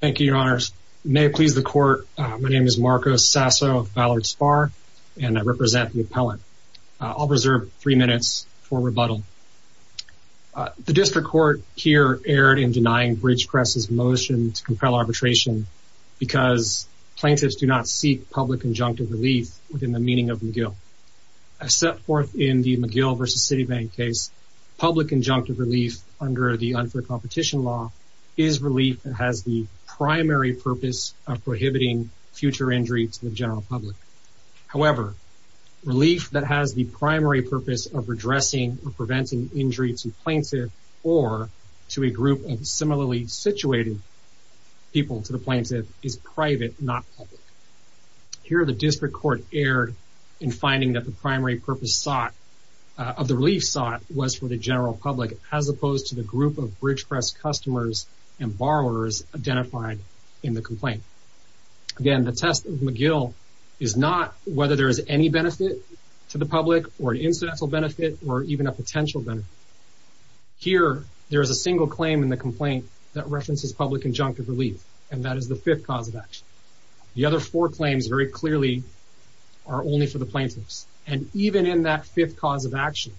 Thank you, Your Honors. May it please the Court, my name is Marcos Sasso of Ballard Sparr, and I represent the appellant. I'll reserve three minutes for rebuttal. The District Court here erred in denying Bridgecrest's motion to compel arbitration because plaintiffs do not seek public injunctive relief within the meaning of McGill. As set forth in the McGill v. Citibank case, public injunctive relief under the unfair competition law is relief that has the primary purpose of prohibiting future injury to the general public. However, relief that has the primary purpose of redressing or preventing injury to plaintiff or to a group of similarly situated people to the plaintiff is private, not public. Here, the District Court erred in finding that the primary purpose of the relief sought was for the general public as opposed to the group of Bridgecrest customers and borrowers identified in the complaint. Again, the test of McGill is not whether there is any benefit to the public or an incidental benefit or even a potential benefit. Here, there is a single claim in the complaint that references public injunctive relief, and that is the fifth cause of action. The other four claims very clearly are only for the plaintiffs, and even in that fifth cause of action,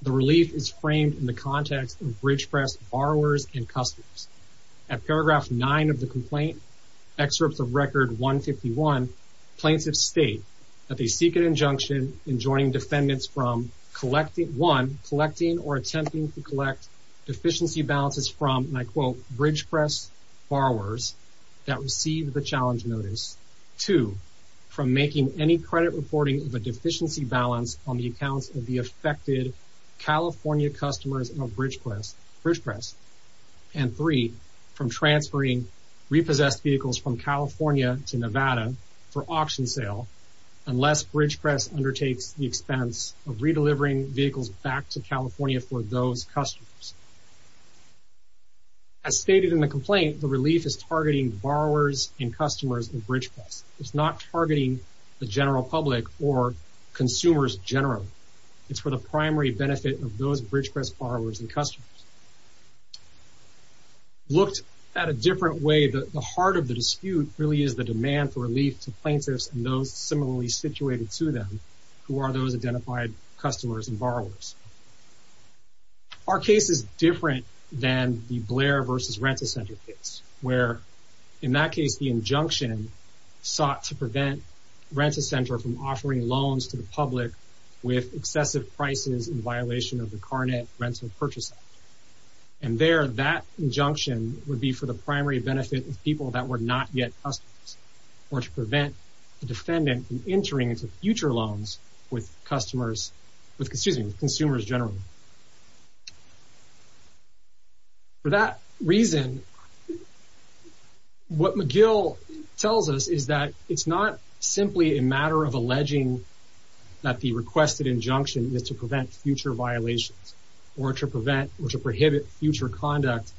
the relief is framed in the context of Bridgecrest borrowers and customers. At paragraph 9 of the complaint, excerpts of record 151, plaintiffs state that they seek an injunction in joining defendants from, one, collecting or attempting to collect deficiency balances from, and I quote, As stated in the complaint, the relief is targeting borrowers and customers in Bridgecrest. It's not targeting the general public or consumers generally. It's for the primary benefit of those Bridgecrest borrowers and customers. Looked at a different way, the heart of the dispute really is the demand for relief to plaintiffs and those similarly situated to them who are those identified customers and borrowers. Our case is different than the Blair versus Rent-A-Center case, where, in that case, the injunction sought to prevent Rent-A-Center from offering loans to the public with excessive prices in violation of the Carnet Rental Purchase Act. And there, that injunction would be for the primary benefit of people that were not yet customers, or to prevent the defendant from entering into future loans with consumers generally. For that reason, what McGill tells us is that it's not simply a matter of alleging that the requested injunction is to prevent future violations, or to prohibit future conduct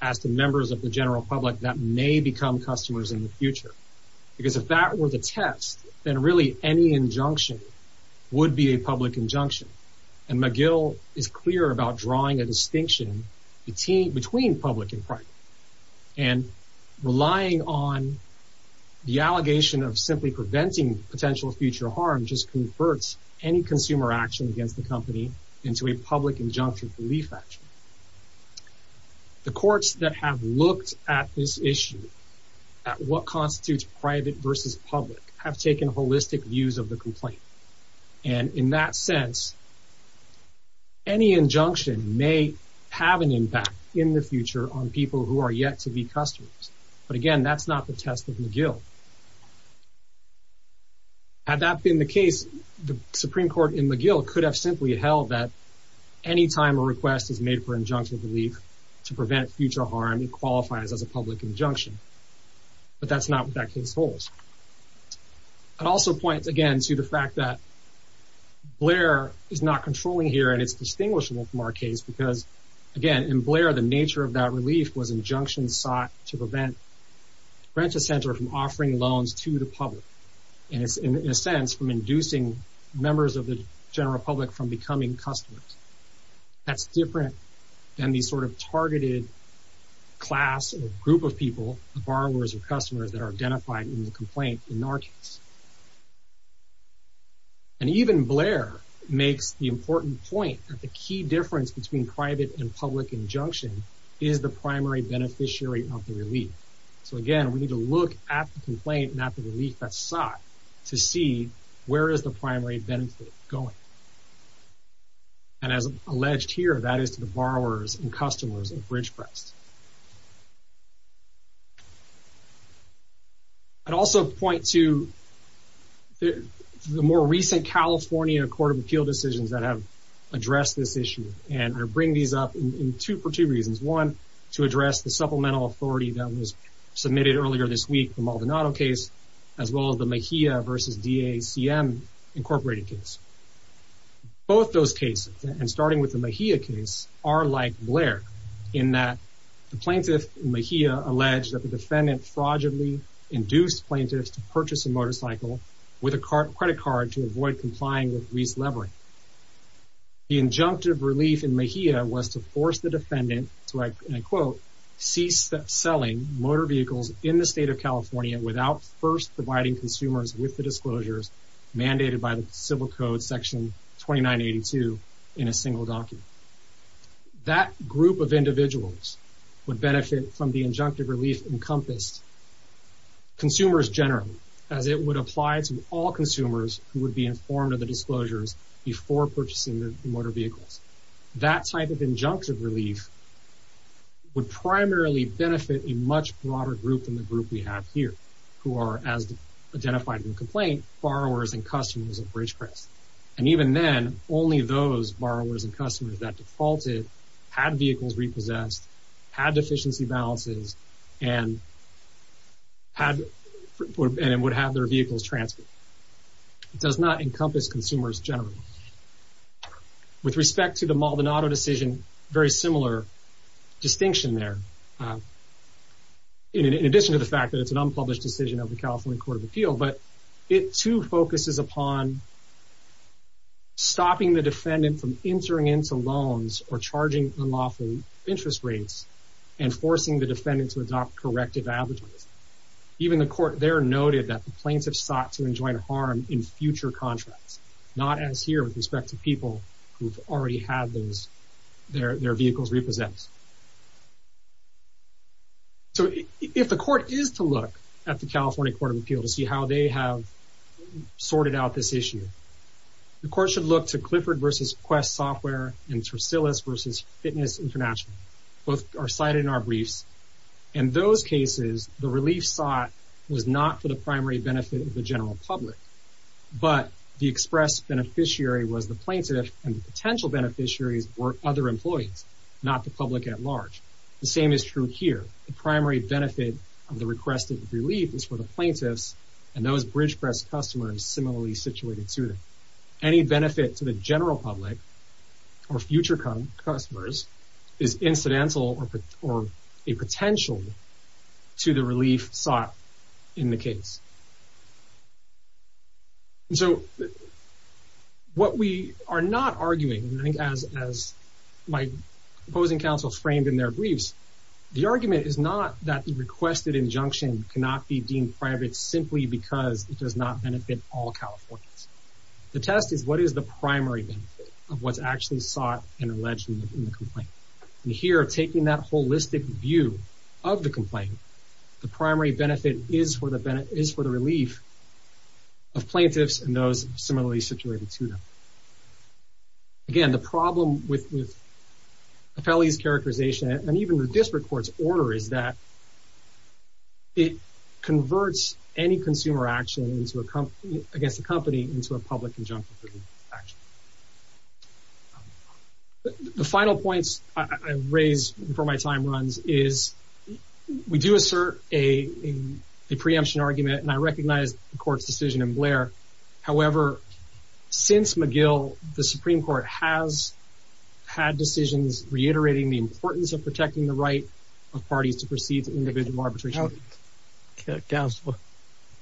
as to members of the general public that may become customers in the future. Because if that were the test, then really any injunction would be a public injunction. And McGill is clear about drawing a distinction between public and private. And relying on the allegation of simply preventing potential future harm just converts any consumer action against the company into a public injunction relief action. The courts that have looked at this issue, at what constitutes private versus public, have taken holistic views of the complaint. And in that sense, any injunction may have an impact in the future on people who are yet to be customers. But again, that's not the test of McGill. Had that been the case, the Supreme Court in McGill could have simply held that any time a request is made for injunction relief to prevent future harm, it qualifies as a public injunction. But that's not what that case holds. I'd also point, again, to the fact that Blair is not controlling here, and it's distinguishable from our case because, again, in Blair, the nature of that relief was injunction sought to prevent Rent-A-Center from offering loans to the public. And it's, in a sense, from inducing members of the general public from becoming customers. That's different than the sort of targeted class or group of people, borrowers or customers, that are identified in the complaint in our case. And even Blair makes the important point that the key difference between private and public injunction is the primary beneficiary of the relief. So, again, we need to look at the complaint, not the relief that's sought, to see where is the primary beneficiary going. And as alleged here, that is to the borrowers and customers of BridgePrest. I'd also point to the more recent California Court of Appeal decisions that have addressed this issue. And I bring these up for two reasons. One, to address the supplemental authority that was submitted earlier this week, the Maldonado case, as well as the Mejia v. DACM Incorporated case. Both those cases, and starting with the Mejia case, are like Blair, in that the plaintiff in Mejia alleged that the defendant fraudulently induced plaintiffs to purchase a motorcycle with a credit card to avoid complying with lease leverage. The injunctive relief in Mejia was to force the defendant to, and I quote, cease selling motor vehicles in the state of California without first providing consumers with the disclosures mandated by the Civil Code, Section 2982, in a single document. That group of individuals would benefit from the injunctive relief encompassed consumers generally, as it would apply to all consumers who would be informed of the disclosures before purchasing the motor vehicles. That type of injunctive relief would primarily benefit a much broader group than the group we have here, who are, as identified in the complaint, borrowers and customers of Ridgecrest. And even then, only those borrowers and customers that defaulted had vehicles repossessed, had deficiency balances, and would have their vehicles transferred. It does not encompass consumers generally. With respect to the Maldonado decision, very similar distinction there, in addition to the fact that it's an unpublished decision of the California Court of Appeal, but it too focuses upon stopping the defendant from entering into loans or charging unlawful interest rates, and forcing the defendant to adopt corrective avenues. Even the court there noted that the plaintiff sought to enjoin harm in future contracts, not as here with respect to people who've already had their vehicles repossessed. So if the court is to look at the California Court of Appeal to see how they have sorted out this issue, the court should look to Clifford v. Quest Software and Tricillis v. Fitness International. Both are cited in our briefs. In those cases, the relief sought was not for the primary benefit of the general public, but the express beneficiary was the plaintiff and the potential beneficiaries were other employees, not the public at large. The same is true here. The primary benefit of the requested relief is for the plaintiffs and those Ridgecrest customers similarly situated to them. Any benefit to the general public or future customers is incidental or a potential to the relief sought in the case. So what we are not arguing, I think as my opposing counsels framed in their briefs, the argument is not that the requested injunction cannot be deemed private simply because it does not benefit all Californians. The test is what is the primary benefit of what's actually sought and alleged in the complaint. And here, taking that holistic view of the complaint, the primary benefit is for the relief of plaintiffs and those similarly situated to them. Again, the problem with Apelli's characterization and even the district court's order is that it converts any consumer action against a company into a public injunction. The final points I raise before my time runs is we do assert a preemption argument and I recognize the court's decision in Blair. However, since McGill, the Supreme Court has had decisions reiterating the importance of protecting the right of parties to proceed to individual arbitration. Counsel,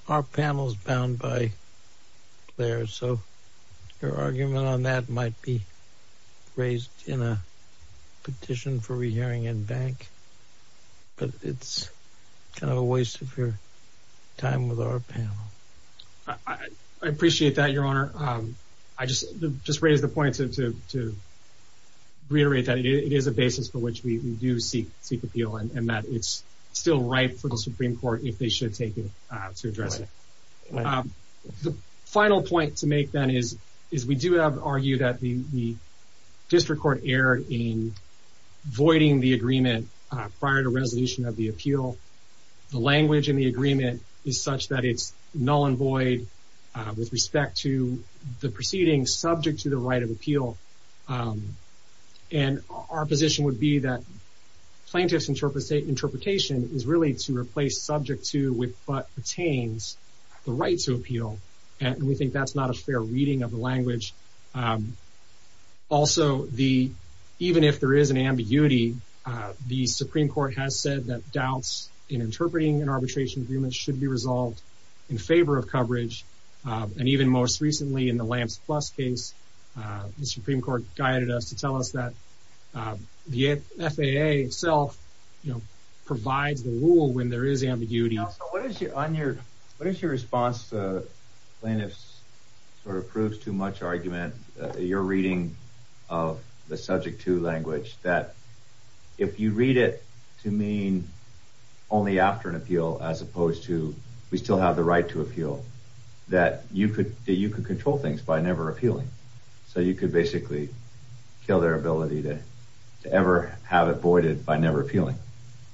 our panel is bound by Blair, so your argument on that might be raised in a petition for re-hearing in bank. But it's kind of a waste of your time with our panel. I appreciate that, Your Honor. I just raise the point to reiterate that it is a basis for which we do seek appeal. And that it's still ripe for the Supreme Court, if they should take it, to address it. The final point to make, then, is we do argue that the district court erred in voiding the agreement prior to resolution of the appeal. The language in the agreement is such that it's null and void with respect to the proceedings subject to the right of appeal. And our position would be that plaintiff's interpretation is really to replace subject to with but pertains the right to appeal. And we think that's not a fair reading of the language. Also, even if there is an ambiguity, the Supreme Court has said that doubts in interpreting an arbitration agreement should be resolved in favor of coverage. And even most recently in the Lance Plus case, the Supreme Court guided us to tell us that the FAA itself provides the rule when there is ambiguity. What is your response to plaintiffs' sort of proves-too-much argument, your reading of the subject-to language, that if you read it to mean only after an appeal as opposed to we still have the right to appeal, that you could control things by never appealing? So you could basically kill their ability to ever have it voided by never appealing?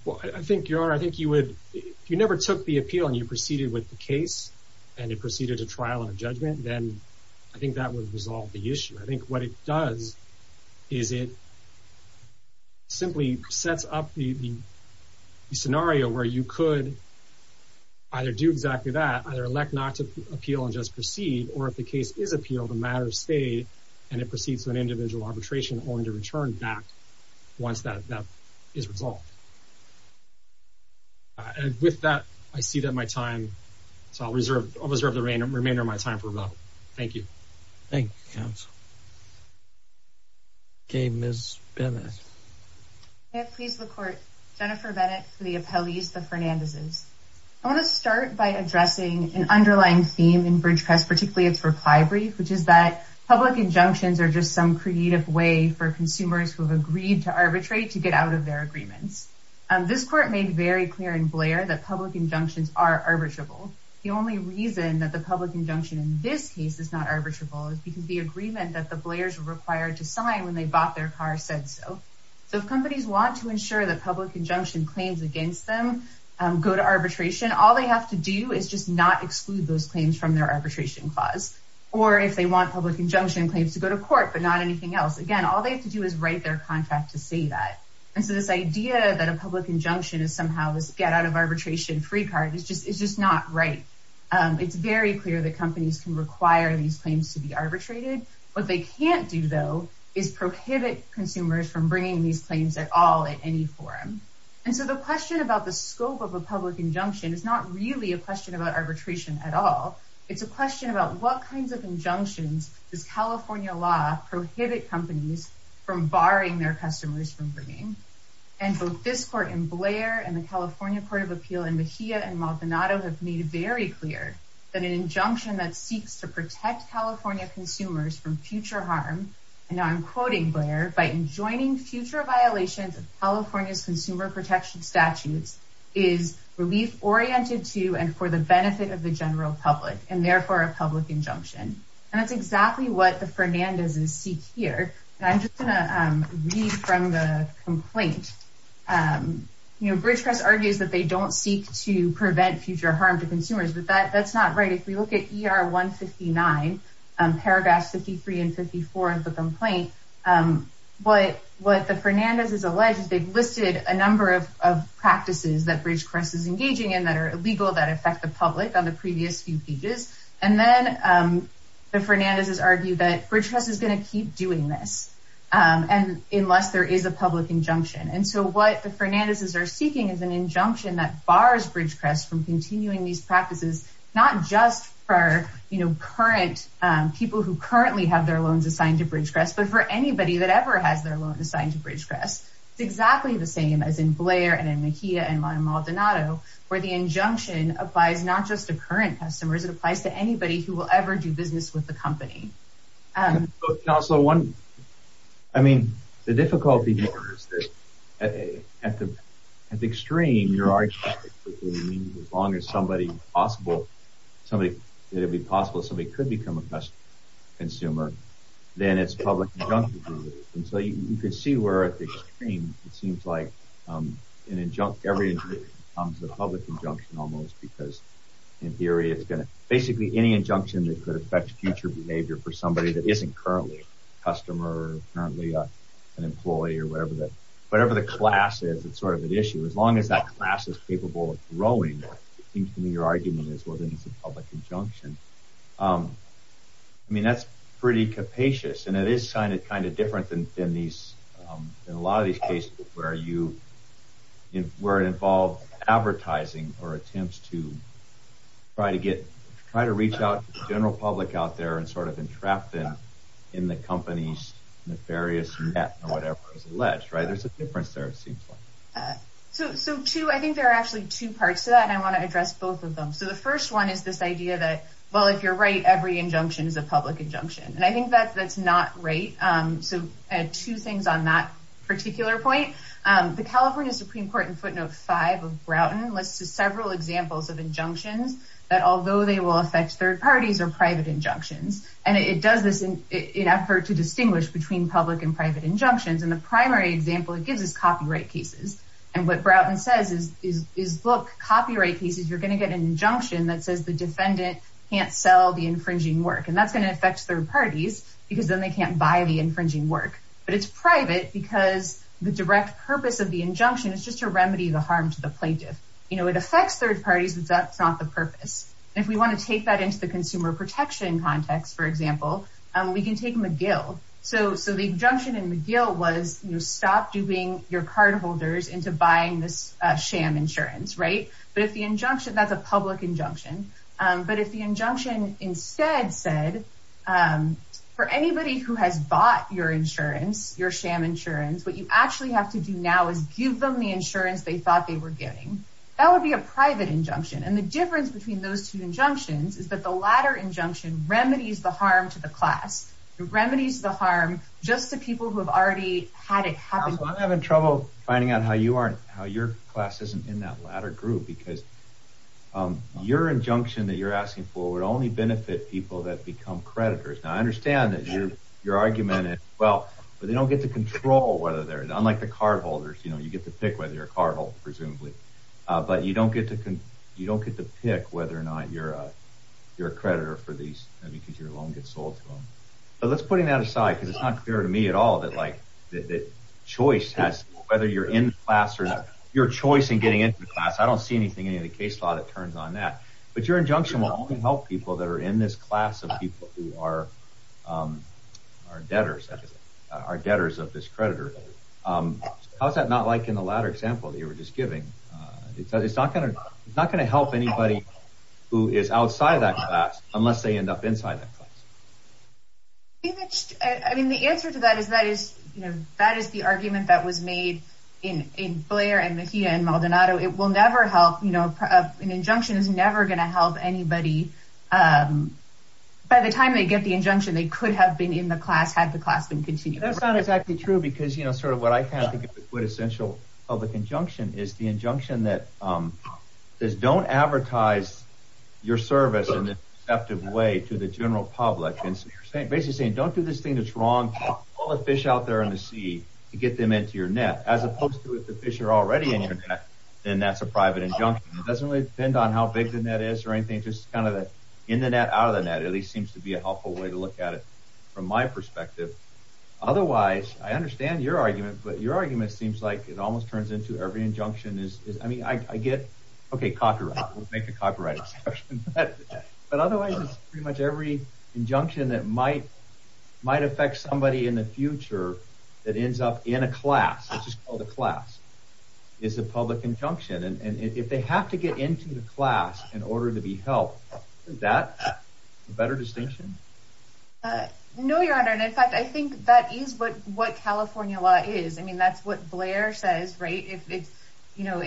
Well, I think, Your Honor, I think you would – if you never took the appeal and you proceeded with the case and it proceeded to trial and judgment, then I think that would resolve the issue. I think what it does is it simply sets up the scenario where you could either do exactly that, either elect not to appeal and just proceed, or if the case is appealed, and it proceeds to an individual arbitration only to return back once that is resolved. And with that, I see that my time – so I'll reserve the remainder of my time for rebuttal. Thank you. Thank you, counsel. Okay, Ms. Bennett. May it please the Court, Jennifer Bennett for the appellees, the Fernandezes. I want to start by addressing an underlying theme in BridgeCast, particularly its reply brief, which is that public injunctions are just some creative way for consumers who have agreed to arbitrate to get out of their agreements. This Court made very clear in Blair that public injunctions are arbitrable. The only reason that the public injunction in this case is not arbitrable is because the agreement that the Blairs were required to sign when they bought their car said so. So if companies want to ensure that public injunction claims against them go to arbitration, all they have to do is just not exclude those claims from their arbitration clause. Or if they want public injunction claims to go to court but not anything else, again, all they have to do is write their contract to say that. And so this idea that a public injunction is somehow this get-out-of-arbitration-free card is just not right. It's very clear that companies can require these claims to be arbitrated. What they can't do, though, is prohibit consumers from bringing these claims at all at any forum. And so the question about the scope of a public injunction is not really a question about arbitration at all. It's a question about what kinds of injunctions does California law prohibit companies from barring their customers from bringing. And both this court in Blair and the California Court of Appeal in Mejia and Maldonado have made it very clear that an injunction that seeks to protect California consumers from future harm, and now I'm quoting Blair, by enjoining future violations of California's consumer protection statutes, is relief-oriented to and for the benefit of the general public, and therefore a public injunction. And that's exactly what the Fernandezes seek here. And I'm just going to read from the complaint. You know, BridgeCrest argues that they don't seek to prevent future harm to consumers, but that's not right. If we look at ER 159, paragraphs 53 and 54 of the complaint, what the Fernandezes allege is they've listed a number of practices that BridgeCrest is engaging in that are illegal, that affect the public on the previous few pages. And then the Fernandezes argue that BridgeCrest is going to keep doing this unless there is a public injunction. And so what the Fernandezes are seeking is an injunction that bars BridgeCrest from continuing these practices, not just for, you know, current people who currently have their loans assigned to BridgeCrest, but for anybody that ever has their loan assigned to BridgeCrest. It's exactly the same as in Blair and in Mejia and in Maldonado, where the injunction applies not just to current customers, it applies to anybody who will ever do business with the company. And also one, I mean, the difficulty here is that at the extreme, your argument is as long as somebody possible, somebody that would be possible, somebody could become a best consumer, then it's a public injunction to do it. And so you could see where at the extreme it seems like every injunction becomes a public injunction almost, because in theory it's going to – basically any injunction that could affect future behavior for somebody that isn't currently a customer or currently an employee or whatever the class is, it's sort of an issue. As long as that class is capable of growing, it seems to me your argument is whether it's a public injunction. I mean, that's pretty capacious, and it is kind of different than a lot of these cases where it involves advertising or attempts to try to reach out to the general public out there and sort of entrap them in the company's nefarious net or whatever is alleged. There's a difference there, it seems like. So two, I think there are actually two parts to that, and I want to address both of them. So the first one is this idea that, well, if you're right, every injunction is a public injunction. And I think that's not right. So two things on that particular point. The California Supreme Court in footnote 5 of Broughton lists several examples of injunctions that, although they will affect third parties, are private injunctions. And it does this in effort to distinguish between public and private injunctions, and the primary example it gives is copyright cases. And what Broughton says is, look, copyright cases, you're going to get an injunction that says the defendant can't sell the infringing work, and that's going to affect third parties because then they can't buy the infringing work. But it's private because the direct purpose of the injunction is just to remedy the harm to the plaintiff. You know, it affects third parties, but that's not the purpose. And if we want to take that into the consumer protection context, for example, we can take McGill. So the injunction in McGill was, you know, stop duping your cardholders into buying this sham insurance, right? But if the injunction, that's a public injunction. But if the injunction instead said, for anybody who has bought your insurance, your sham insurance, what you actually have to do now is give them the insurance they thought they were getting, that would be a private injunction. And the difference between those two injunctions is that the latter injunction remedies the harm to the class. It remedies the harm just to people who have already had it happen. I'm having trouble finding out how your class isn't in that latter group because your injunction that you're asking for would only benefit people that become creditors. Now, I understand that your argument is, well, they don't get to control whether they're, unlike the cardholders, you know, you get to pick whether you're a cardholder, presumably. But you don't get to pick whether or not you're a creditor for these because your loan gets sold to them. But let's put that aside because it's not clear to me at all that, like, that choice has, whether you're in class or not, your choice in getting into the class, I don't see anything in any of the case law that turns on that. But your injunction will only help people that are in this class of people who are debtors, are debtors of this creditor. How's that not like in the latter example that you were just giving? It's not going to help anybody who is outside that class unless they end up inside that class. I mean, the answer to that is that is, you know, that is the argument that was made in Blair and Mejia and Maldonado. It will never help, you know, an injunction is never going to help anybody. By the time they get the injunction, they could have been in the class had the class been continuing. That's not exactly true because, you know, sort of what I kind of think is the quintessential public injunction is the injunction that says don't advertise your service in a deceptive way to the general public. It's basically saying don't do this thing that's wrong. Pull the fish out there in the sea to get them into your net, as opposed to if the fish are already in your net, then that's a private injunction. It doesn't really depend on how big the net is or anything, just kind of in the net, out of the net, at least seems to be a helpful way to look at it from my perspective. Otherwise, I understand your argument, but your argument seems like it almost turns into every injunction is, I mean, I get, OK, we'll make a copyright exception, but otherwise it's pretty much every injunction that might affect somebody in the future that ends up in a class, which is called a class, is a public injunction. And if they have to get into the class in order to be helped, is that a better distinction? No, Your Honor, and in fact, I think that is what California law is. I mean, that's what Blair says, right? If, you know,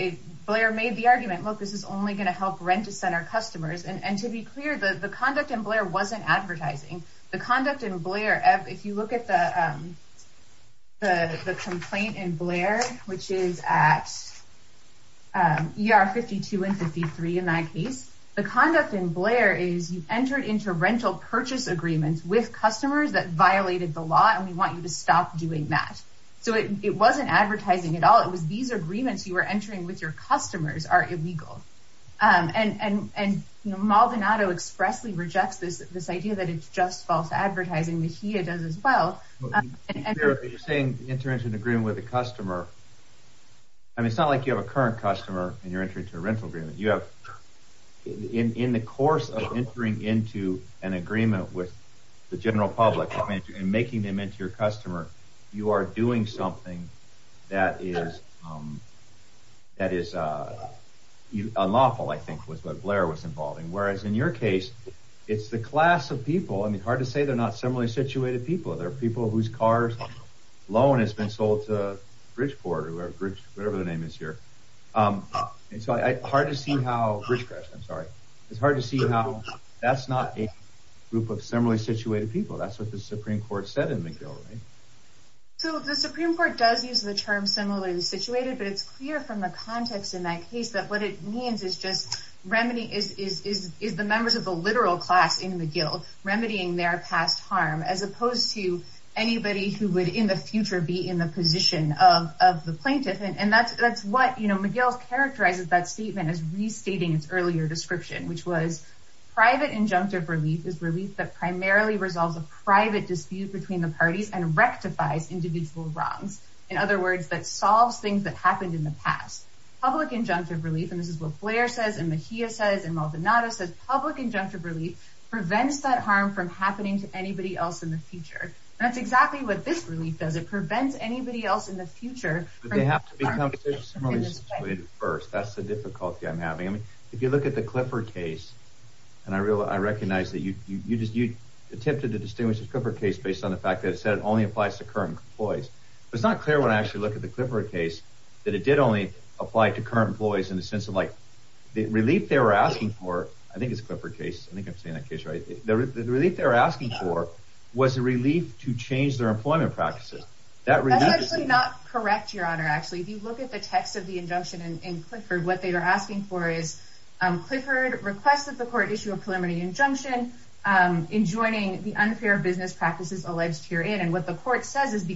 Blair made the argument, look, this is only going to help rent-a-center customers. And to be clear, the conduct in Blair wasn't advertising. The conduct in Blair, if you look at the complaint in Blair, which is at ER 52 and 53 in that case, the conduct in Blair is you've entered into rental purchase agreements with customers that violated the law, and we want you to stop doing that. So it wasn't advertising at all. It was these agreements you were entering with your customers are illegal. And Maldonado expressly rejects this idea that it's just false advertising. Mejia does as well. You're saying enter into an agreement with a customer. I mean, it's not like you have a current customer and you're entering into a rental agreement. You have in the course of entering into an agreement with the general public and making them into your customer, you are doing something that is unlawful, I think, was what Blair was involved in. Whereas in your case, it's the class of people. I mean, hard to say they're not similarly situated people. They're people whose car's loan has been sold to Bridgeport or whatever the name is here. It's hard to see how that's not a group of similarly situated people. That's what the Supreme Court said in McGill, right? So the Supreme Court does use the term similarly situated, but it's clear from the context in that case that what it means is just is the members of the literal class in McGill remedying their past harm as opposed to anybody who would in the future be in the position of the plaintiff. And that's what McGill characterizes that statement as restating its earlier description, which was private injunctive relief is relief that primarily resolves a private dispute between the parties and rectifies individual wrongs. In other words, that solves things that happened in the past. Public injunctive relief, and this is what Blair says and Mejia says and Maldonado says, public injunctive relief prevents that harm from happening to anybody else in the future. And that's exactly what this relief does. It prevents anybody else in the future. But they have to become similarly situated first. That's the difficulty I'm having. If you look at the Clifford case, and I recognize that you attempted to distinguish the Clifford case based on the fact that it said it only applies to current employees. But it's not clear when I actually look at the Clifford case that it did only apply to current employees in the sense of like the relief they were asking for. I think it's Clifford case. I think I'm saying that case right. The relief they were asking for was a relief to change their employment practices. That's actually not correct, Your Honor. Actually, if you look at the text of the injunction in Clifford, what they were asking for is Clifford requested the court issue a preliminary injunction in joining the unfair business practices alleged herein. And what the court says is the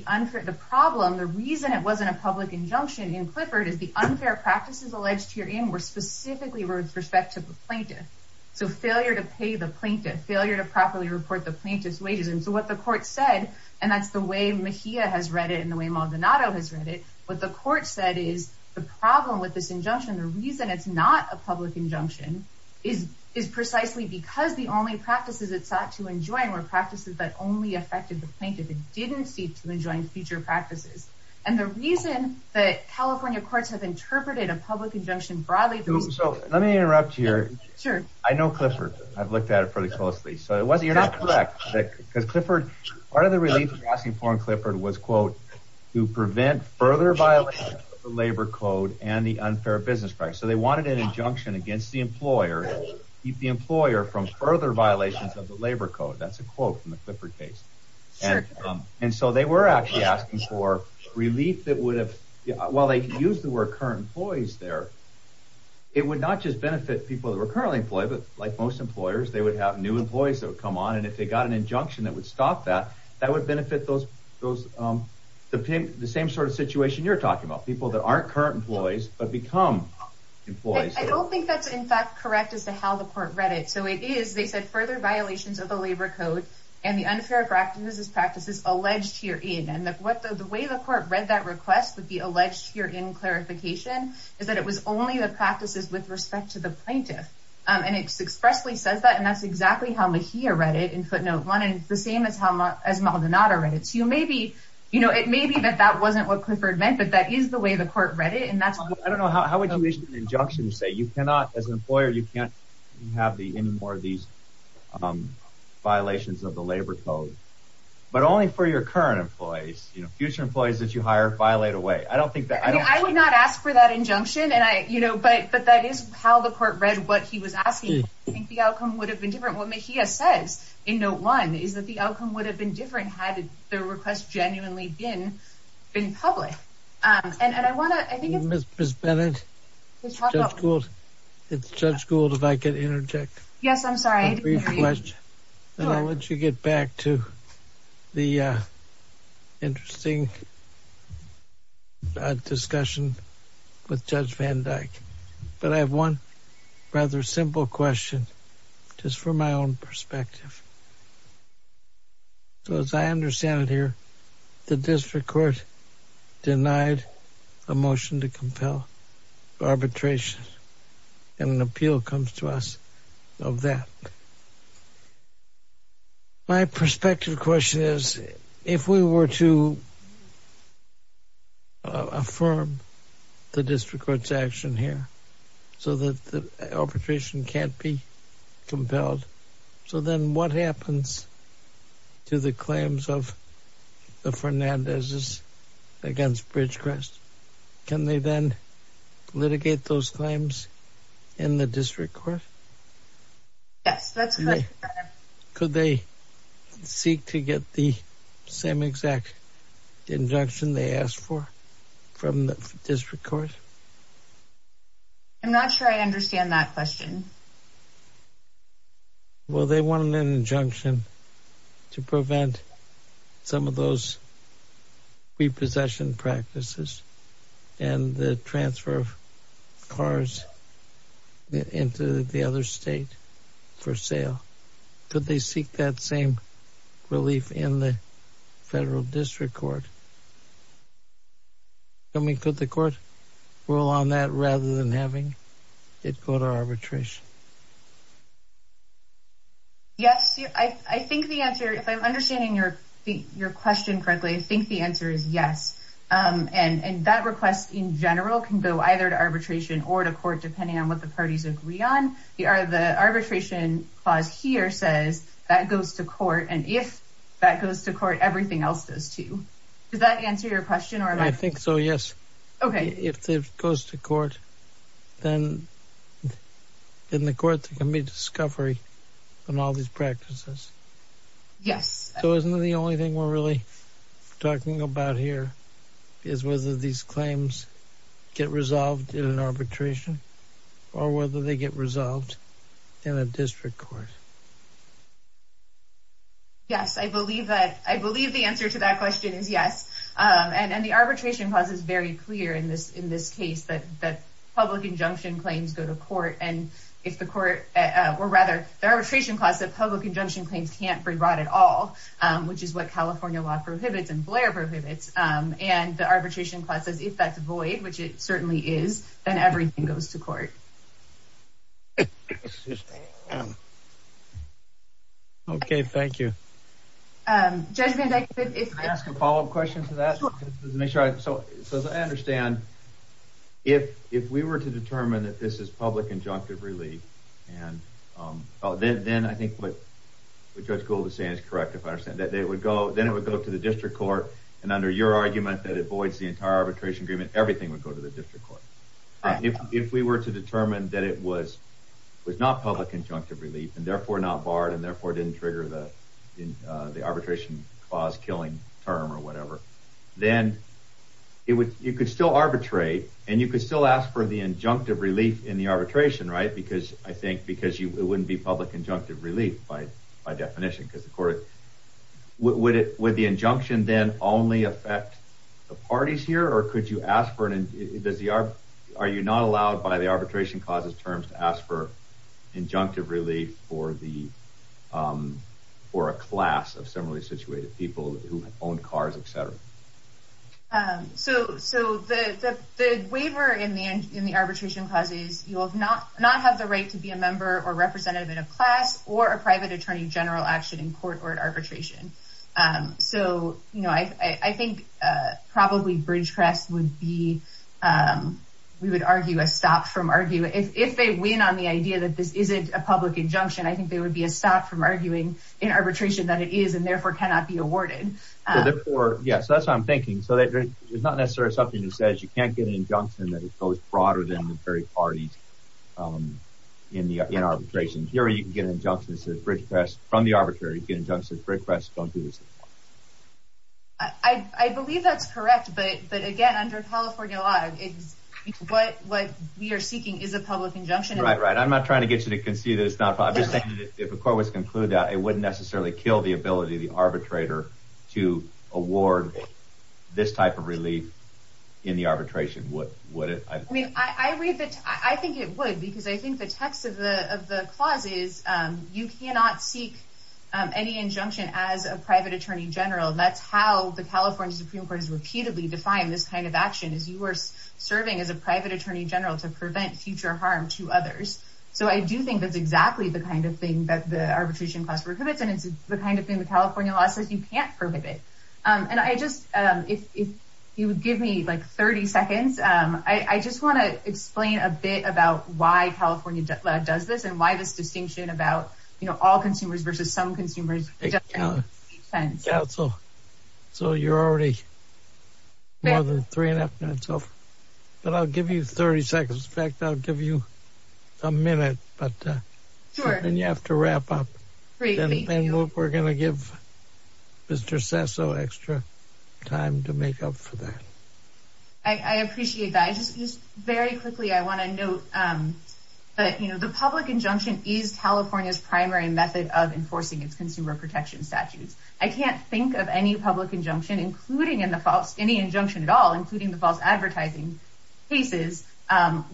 problem, the reason it wasn't a public injunction in Clifford is the unfair practices alleged herein were specifically with respect to the plaintiff. So failure to pay the plaintiff, failure to properly report the plaintiff's wages. And so what the court said, and that's the way Mejia has read it and the way Maldonado has read it, what the court said is the problem with this injunction, the reason it's not a public injunction, is precisely because the only practices it sought to enjoin were practices that only affected the plaintiff and didn't seek to enjoin future practices. And the reason that California courts have interpreted a public injunction broadly Let me interrupt here. I know Clifford. I've looked at it pretty closely. So you're not correct, because Clifford, part of the relief they were asking for in Clifford was, quote, to prevent further violations of the labor code and the unfair business practice. So they wanted an injunction against the employer to keep the employer from further violations of the labor code. That's a quote from the Clifford case. And so they were actually asking for relief that would have, while they used the word current employees there, it would not just benefit people that were currently employed, but like most employers, they would have new employees that would come on. And if they got an injunction that would stop that, that would benefit those, the same sort of situation you're talking about, people that aren't current employees but become employees. I don't think that's, in fact, correct as to how the court read it. So it is, they said, further violations of the labor code and the unfair practices alleged herein. And the way the court read that request, the alleged herein clarification, is that it was only the practices with respect to the plaintiff. And it expressly says that, and that's exactly how Mejia read it in footnote one, and it's the same as how Maldonado read it. So you may be, you know, it may be that that wasn't what Clifford meant, but that is the way the court read it. I don't know, how would you issue an injunction to say you cannot, as an employer, you can't have any more of these violations of the labor code, but only for your current employees. You know, future employees that you hire violate away. I don't think that. I would not ask for that injunction, and I, you know, but that is how the court read what he was asking. I think the outcome would have been different. What Mejia says in note one is that the outcome would have been different had the request genuinely been public. And I want to, I think it's. Ms. Bennett. Judge Gould. Yes, I'm sorry, I didn't hear you. I'll let you get back to the interesting discussion with Judge Van Dyke. But I have one rather simple question, just from my own perspective. So as I understand it here, the district court denied a motion to compel arbitration. And an appeal comes to us of that. My perspective question is if we were to affirm the district court's action here so that the arbitration can't be compelled. So then what happens to the claims of the Fernandez's against Bridgecrest? Can they then litigate those claims in the district court? Yes, that's correct. Could they seek to get the same exact injunction they asked for from the district court? I'm not sure I understand that question. Well, they wanted an injunction to prevent some of those repossession practices and the transfer of cars into the other state for sale. Could they seek that same relief in the federal district court? I mean, could the court rule on that rather than having it go to arbitration? Yes, I think the answer, if I'm understanding your question correctly, I think the answer is yes. And that request in general can go either to arbitration or to court, depending on what the parties agree on. The arbitration clause here says that goes to court, and if that goes to court, everything else does too. Does that answer your question? I think so, yes. Okay. If it goes to court, then in the court there can be discovery on all these practices. Yes. So isn't the only thing we're really talking about here is whether these claims get resolved in an arbitration or whether they get resolved in a district court? Yes, I believe that. I believe the answer to that question is yes. And the arbitration clause is very clear in this case that public injunction claims go to court. And if the court, or rather, the arbitration clause that public injunction claims can't be brought at all, which is what California law prohibits and Blair prohibits. And the arbitration clause says if that's void, which it certainly is, then everything goes to court. Okay, thank you. Can I ask a follow-up question to that? Sure. So as I understand, if we were to determine that this is public injunctive relief, then I think what Judge Gould is saying is correct if I understand. Then it would go to the district court, and under your argument that it voids the entire arbitration agreement, everything would go to the district court. If we were to determine that it was not public injunctive relief, and therefore not barred, and therefore didn't trigger the arbitration clause killing term or whatever, then you could still arbitrate, and you could still ask for the injunctive relief in the arbitration, right? Because I think it wouldn't be public injunctive relief by definition. Would the injunction then only affect the parties here, or are you not allowed by the arbitration clause's terms to ask for injunctive relief for a class of similarly situated people who own cars, etc.? So the waiver in the arbitration clause is you will not have the right to be a member or representative in a class or a private attorney general action in court or arbitration. So I think probably Bridgecrest would be, we would argue, a stop from arguing. If they win on the idea that this isn't a public injunction, I think there would be a stop from arguing in arbitration that it is and therefore cannot be awarded. Yes, that's what I'm thinking. So it's not necessarily something that says you can't get an injunction that is both broader than the very parties in arbitration. Here you can get an injunction that says, Bridgecrest, from the arbitrary, you can get an injunction that says, Bridgecrest, don't do this. I believe that's correct, but again, under California law, what we are seeking is a public injunction. Right, right. I'm not trying to get you to concede that it's not. I'm just saying that if a court was to conclude that, it wouldn't necessarily kill the ability of the arbitrator to award this type of relief in the arbitration, would it? I mean, I read that, I think it would, because I think the text of the clause is you cannot seek any injunction as a private attorney general. That's how the California Supreme Court has repeatedly defined this kind of action, is you are serving as a private attorney general to prevent future harm to others. So I do think that's exactly the kind of thing that the arbitration clause prohibits, and it's the kind of thing the California law says you can't prohibit. And I just, if you would give me like 30 seconds, I just want to explain a bit about why California does this and why this distinction about all consumers versus some consumers doesn't make sense. Yeah, so you're already more than three and a half minutes over. But I'll give you 30 seconds. In fact, I'll give you a minute, but then you have to wrap up. Great, thank you. And we're going to give Mr. Sesso extra time to make up for that. I appreciate that. Just very quickly, I want to note that, you know, the public injunction is California's primary method of enforcing its consumer protection statutes. I can't think of any public injunction, including in the false, any injunction at all, including the false advertising cases,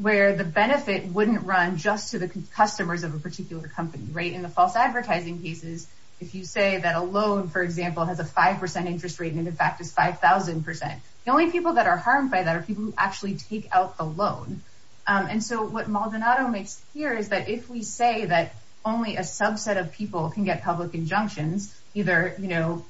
where the benefit wouldn't run just to the customers of a particular company, right? And in the false advertising cases, if you say that a loan, for example, has a 5% interest rate and in fact is 5,000%, the only people that are harmed by that are people who actually take out the loan. And so what Maldonado makes clear is that if we say that only a subset of people can get public injunctions, either, you know,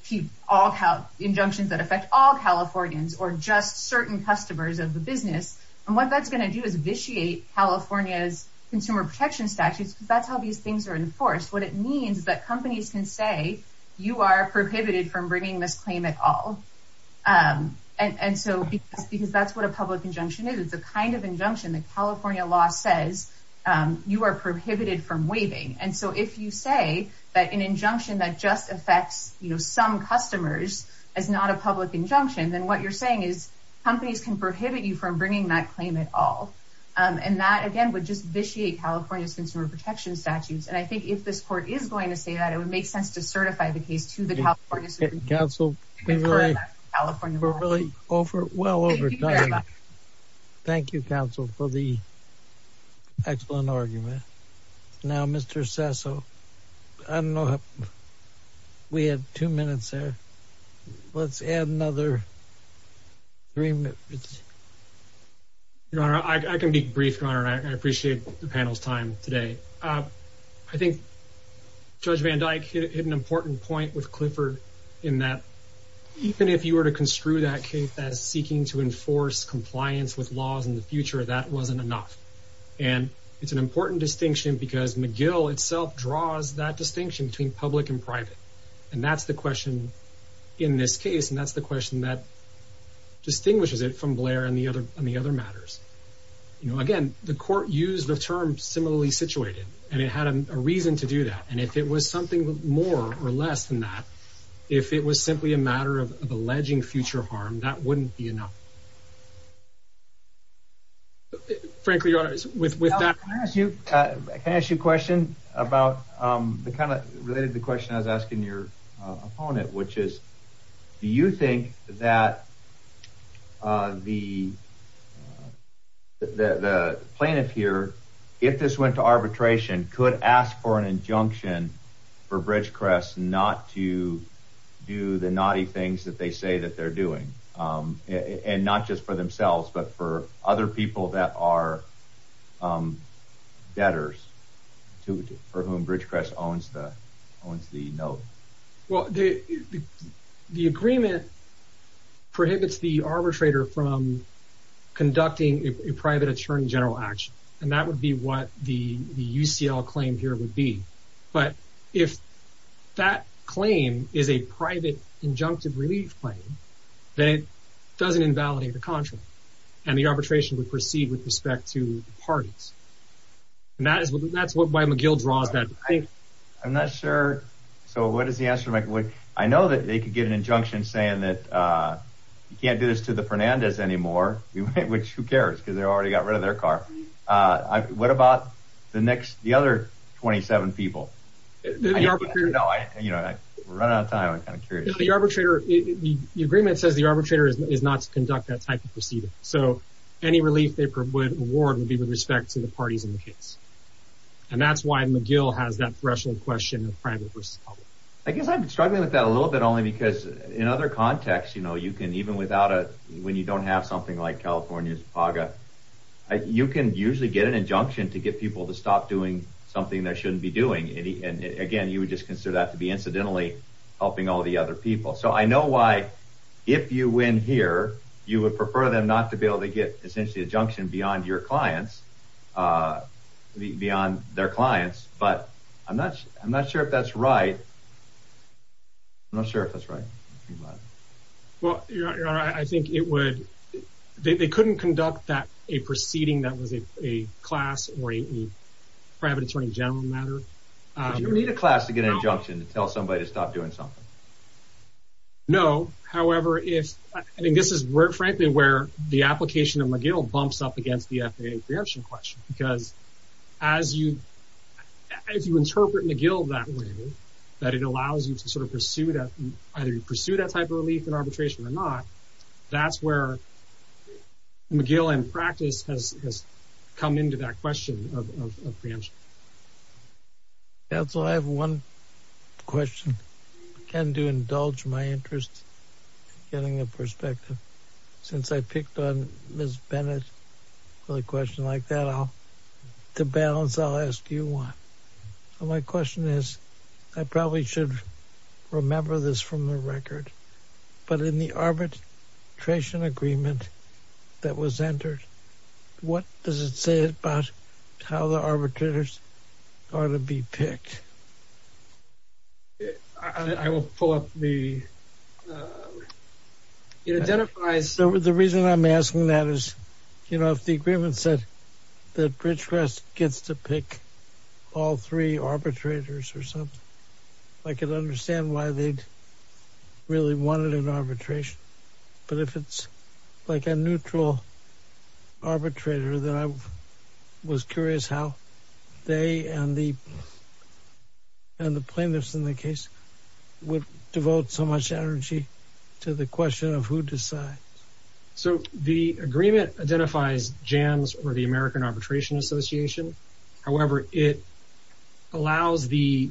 all injunctions that affect all Californians or just certain customers of the business, and what that's going to do is vitiate California's consumer protection statutes, because that's how these things are enforced. What it means is that companies can say you are prohibited from bringing this claim at all. And so because that's what a public injunction is. It's a kind of injunction that California law says you are prohibited from waiving. And so if you say that an injunction that just affects some customers is not a public injunction, then what you're saying is companies can prohibit you from bringing that claim at all. And that, again, would just vitiate California's consumer protection statutes. And I think if this court is going to say that, it would make sense to certify the case to the California Supreme Court. We're really well over time. Thank you, counsel, for the excellent argument. Now, Mr. Sesso, I don't know. We have two minutes there. Let's add another three minutes. Your Honor, I can be brief, Your Honor, and I appreciate the panel's time today. I think Judge Van Dyke hit an important point with Clifford in that even if you were to construe that case as seeking to enforce compliance with laws in the future, that wasn't enough. And it's an important distinction because McGill itself draws that distinction between public and private. And that's the question in this case, and that's the question that distinguishes it from Blair and the other matters. Again, the court used the term similarly situated, and it had a reason to do that. And if it was something more or less than that, if it was simply a matter of alleging future harm, that wouldn't be enough. Frankly, Your Honor, with that... Can I ask you a question about the kind of related to the question I was asking your opponent, which is, do you think that the plaintiff here, if this went to arbitration, could ask for an injunction for Bridgecrest not to do the naughty things that they say that they're doing? And not just for themselves, but for other people that are debtors for whom Bridgecrest owns the note. Well, the agreement prohibits the arbitrator from conducting a private attorney general action, and that would be what the UCL claim here would be. But if that claim is a private injunctive relief claim, then it doesn't invalidate the contract, and the arbitration would proceed with respect to the parties. And that's what McGill draws that distinction. I'm not sure. So what is the answer? I know that they could get an injunction saying that you can't do this to the Fernandez anymore, which who cares, because they already got rid of their car. What about the other 27 people? The agreement says the arbitrator is not to conduct that type of proceeding. So any relief they would award would be with respect to the parties in the case. And that's why McGill has that threshold question of private versus public. I guess I'm struggling with that a little bit only because in other contexts, even when you don't have something like California's PAGA, you can usually get an injunction to get people to stop doing something they shouldn't be doing. And again, you would just consider that to be incidentally helping all the other people. So I know why if you win here, you would prefer them not to be able to get essentially a junction beyond their clients. But I'm not sure if that's right. I'm not sure if that's right. I think they couldn't conduct a proceeding that was a class or a private attorney general matter. You don't need a class to get an injunction to tell somebody to stop doing something. No. However, I think this is frankly where the application of McGill bumps up against the FAA preemption question. Because as you interpret McGill that way, that it allows you to sort of pursue that type of relief in arbitration or not, that's where McGill in practice has come into that question of preemption. I also have one question. Again, to indulge my interest in getting a perspective. Since I picked on Ms. Bennett for a question like that, to balance, I'll ask you one. My question is, I probably should remember this from the record. But in the arbitration agreement that was entered, what does it say about how the arbitrators are to be picked? I will pull up the... It identifies... The reason I'm asking that is, you know, if the agreement said that Bridgecrest gets to pick all three arbitrators or something, I could understand why they'd really wanted an arbitration. But if it's like a neutral arbitrator, then I was curious how they and the plaintiffs in the case would devote so much energy to the question of who decides. So the agreement identifies JAMS or the American Arbitration Association. However, it allows the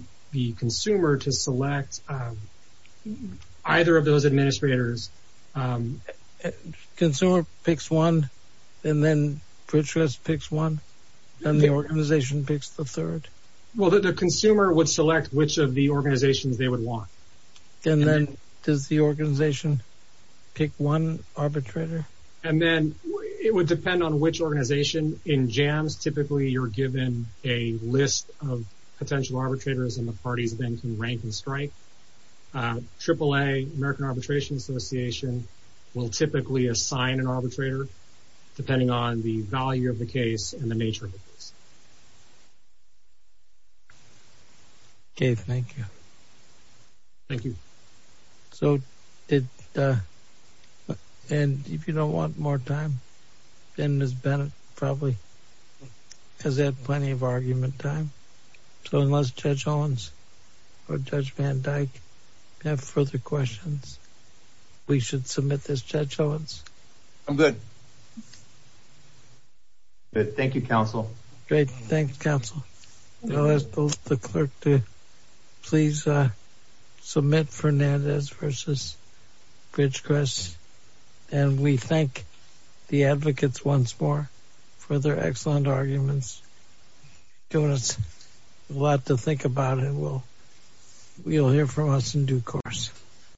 consumer to select either of those administrators. Consumer picks one, and then Bridgecrest picks one, and the organization picks the third? Well, the consumer would select which of the organizations they would want. And then does the organization pick one arbitrator? And then it would depend on which organization. In JAMS, typically you're given a list of potential arbitrators, and the parties then can rank and strike. AAA, American Arbitration Association, will typically assign an arbitrator, depending on the value of the case and the nature of the case. Okay, thank you. Thank you. And if you don't want more time, then Ms. Bennett probably has had plenty of argument time. So unless Judge Owens or Judge Van Dyke have further questions, we should submit this. Judge Owens? I'm good. Thank you, counsel. Great. Thank you, counsel. I'll ask the clerk to please submit Fernandez v. Bridgecrest. And we thank the advocates once more for their excellent arguments, giving us a lot to think about. And you'll hear from us in due course.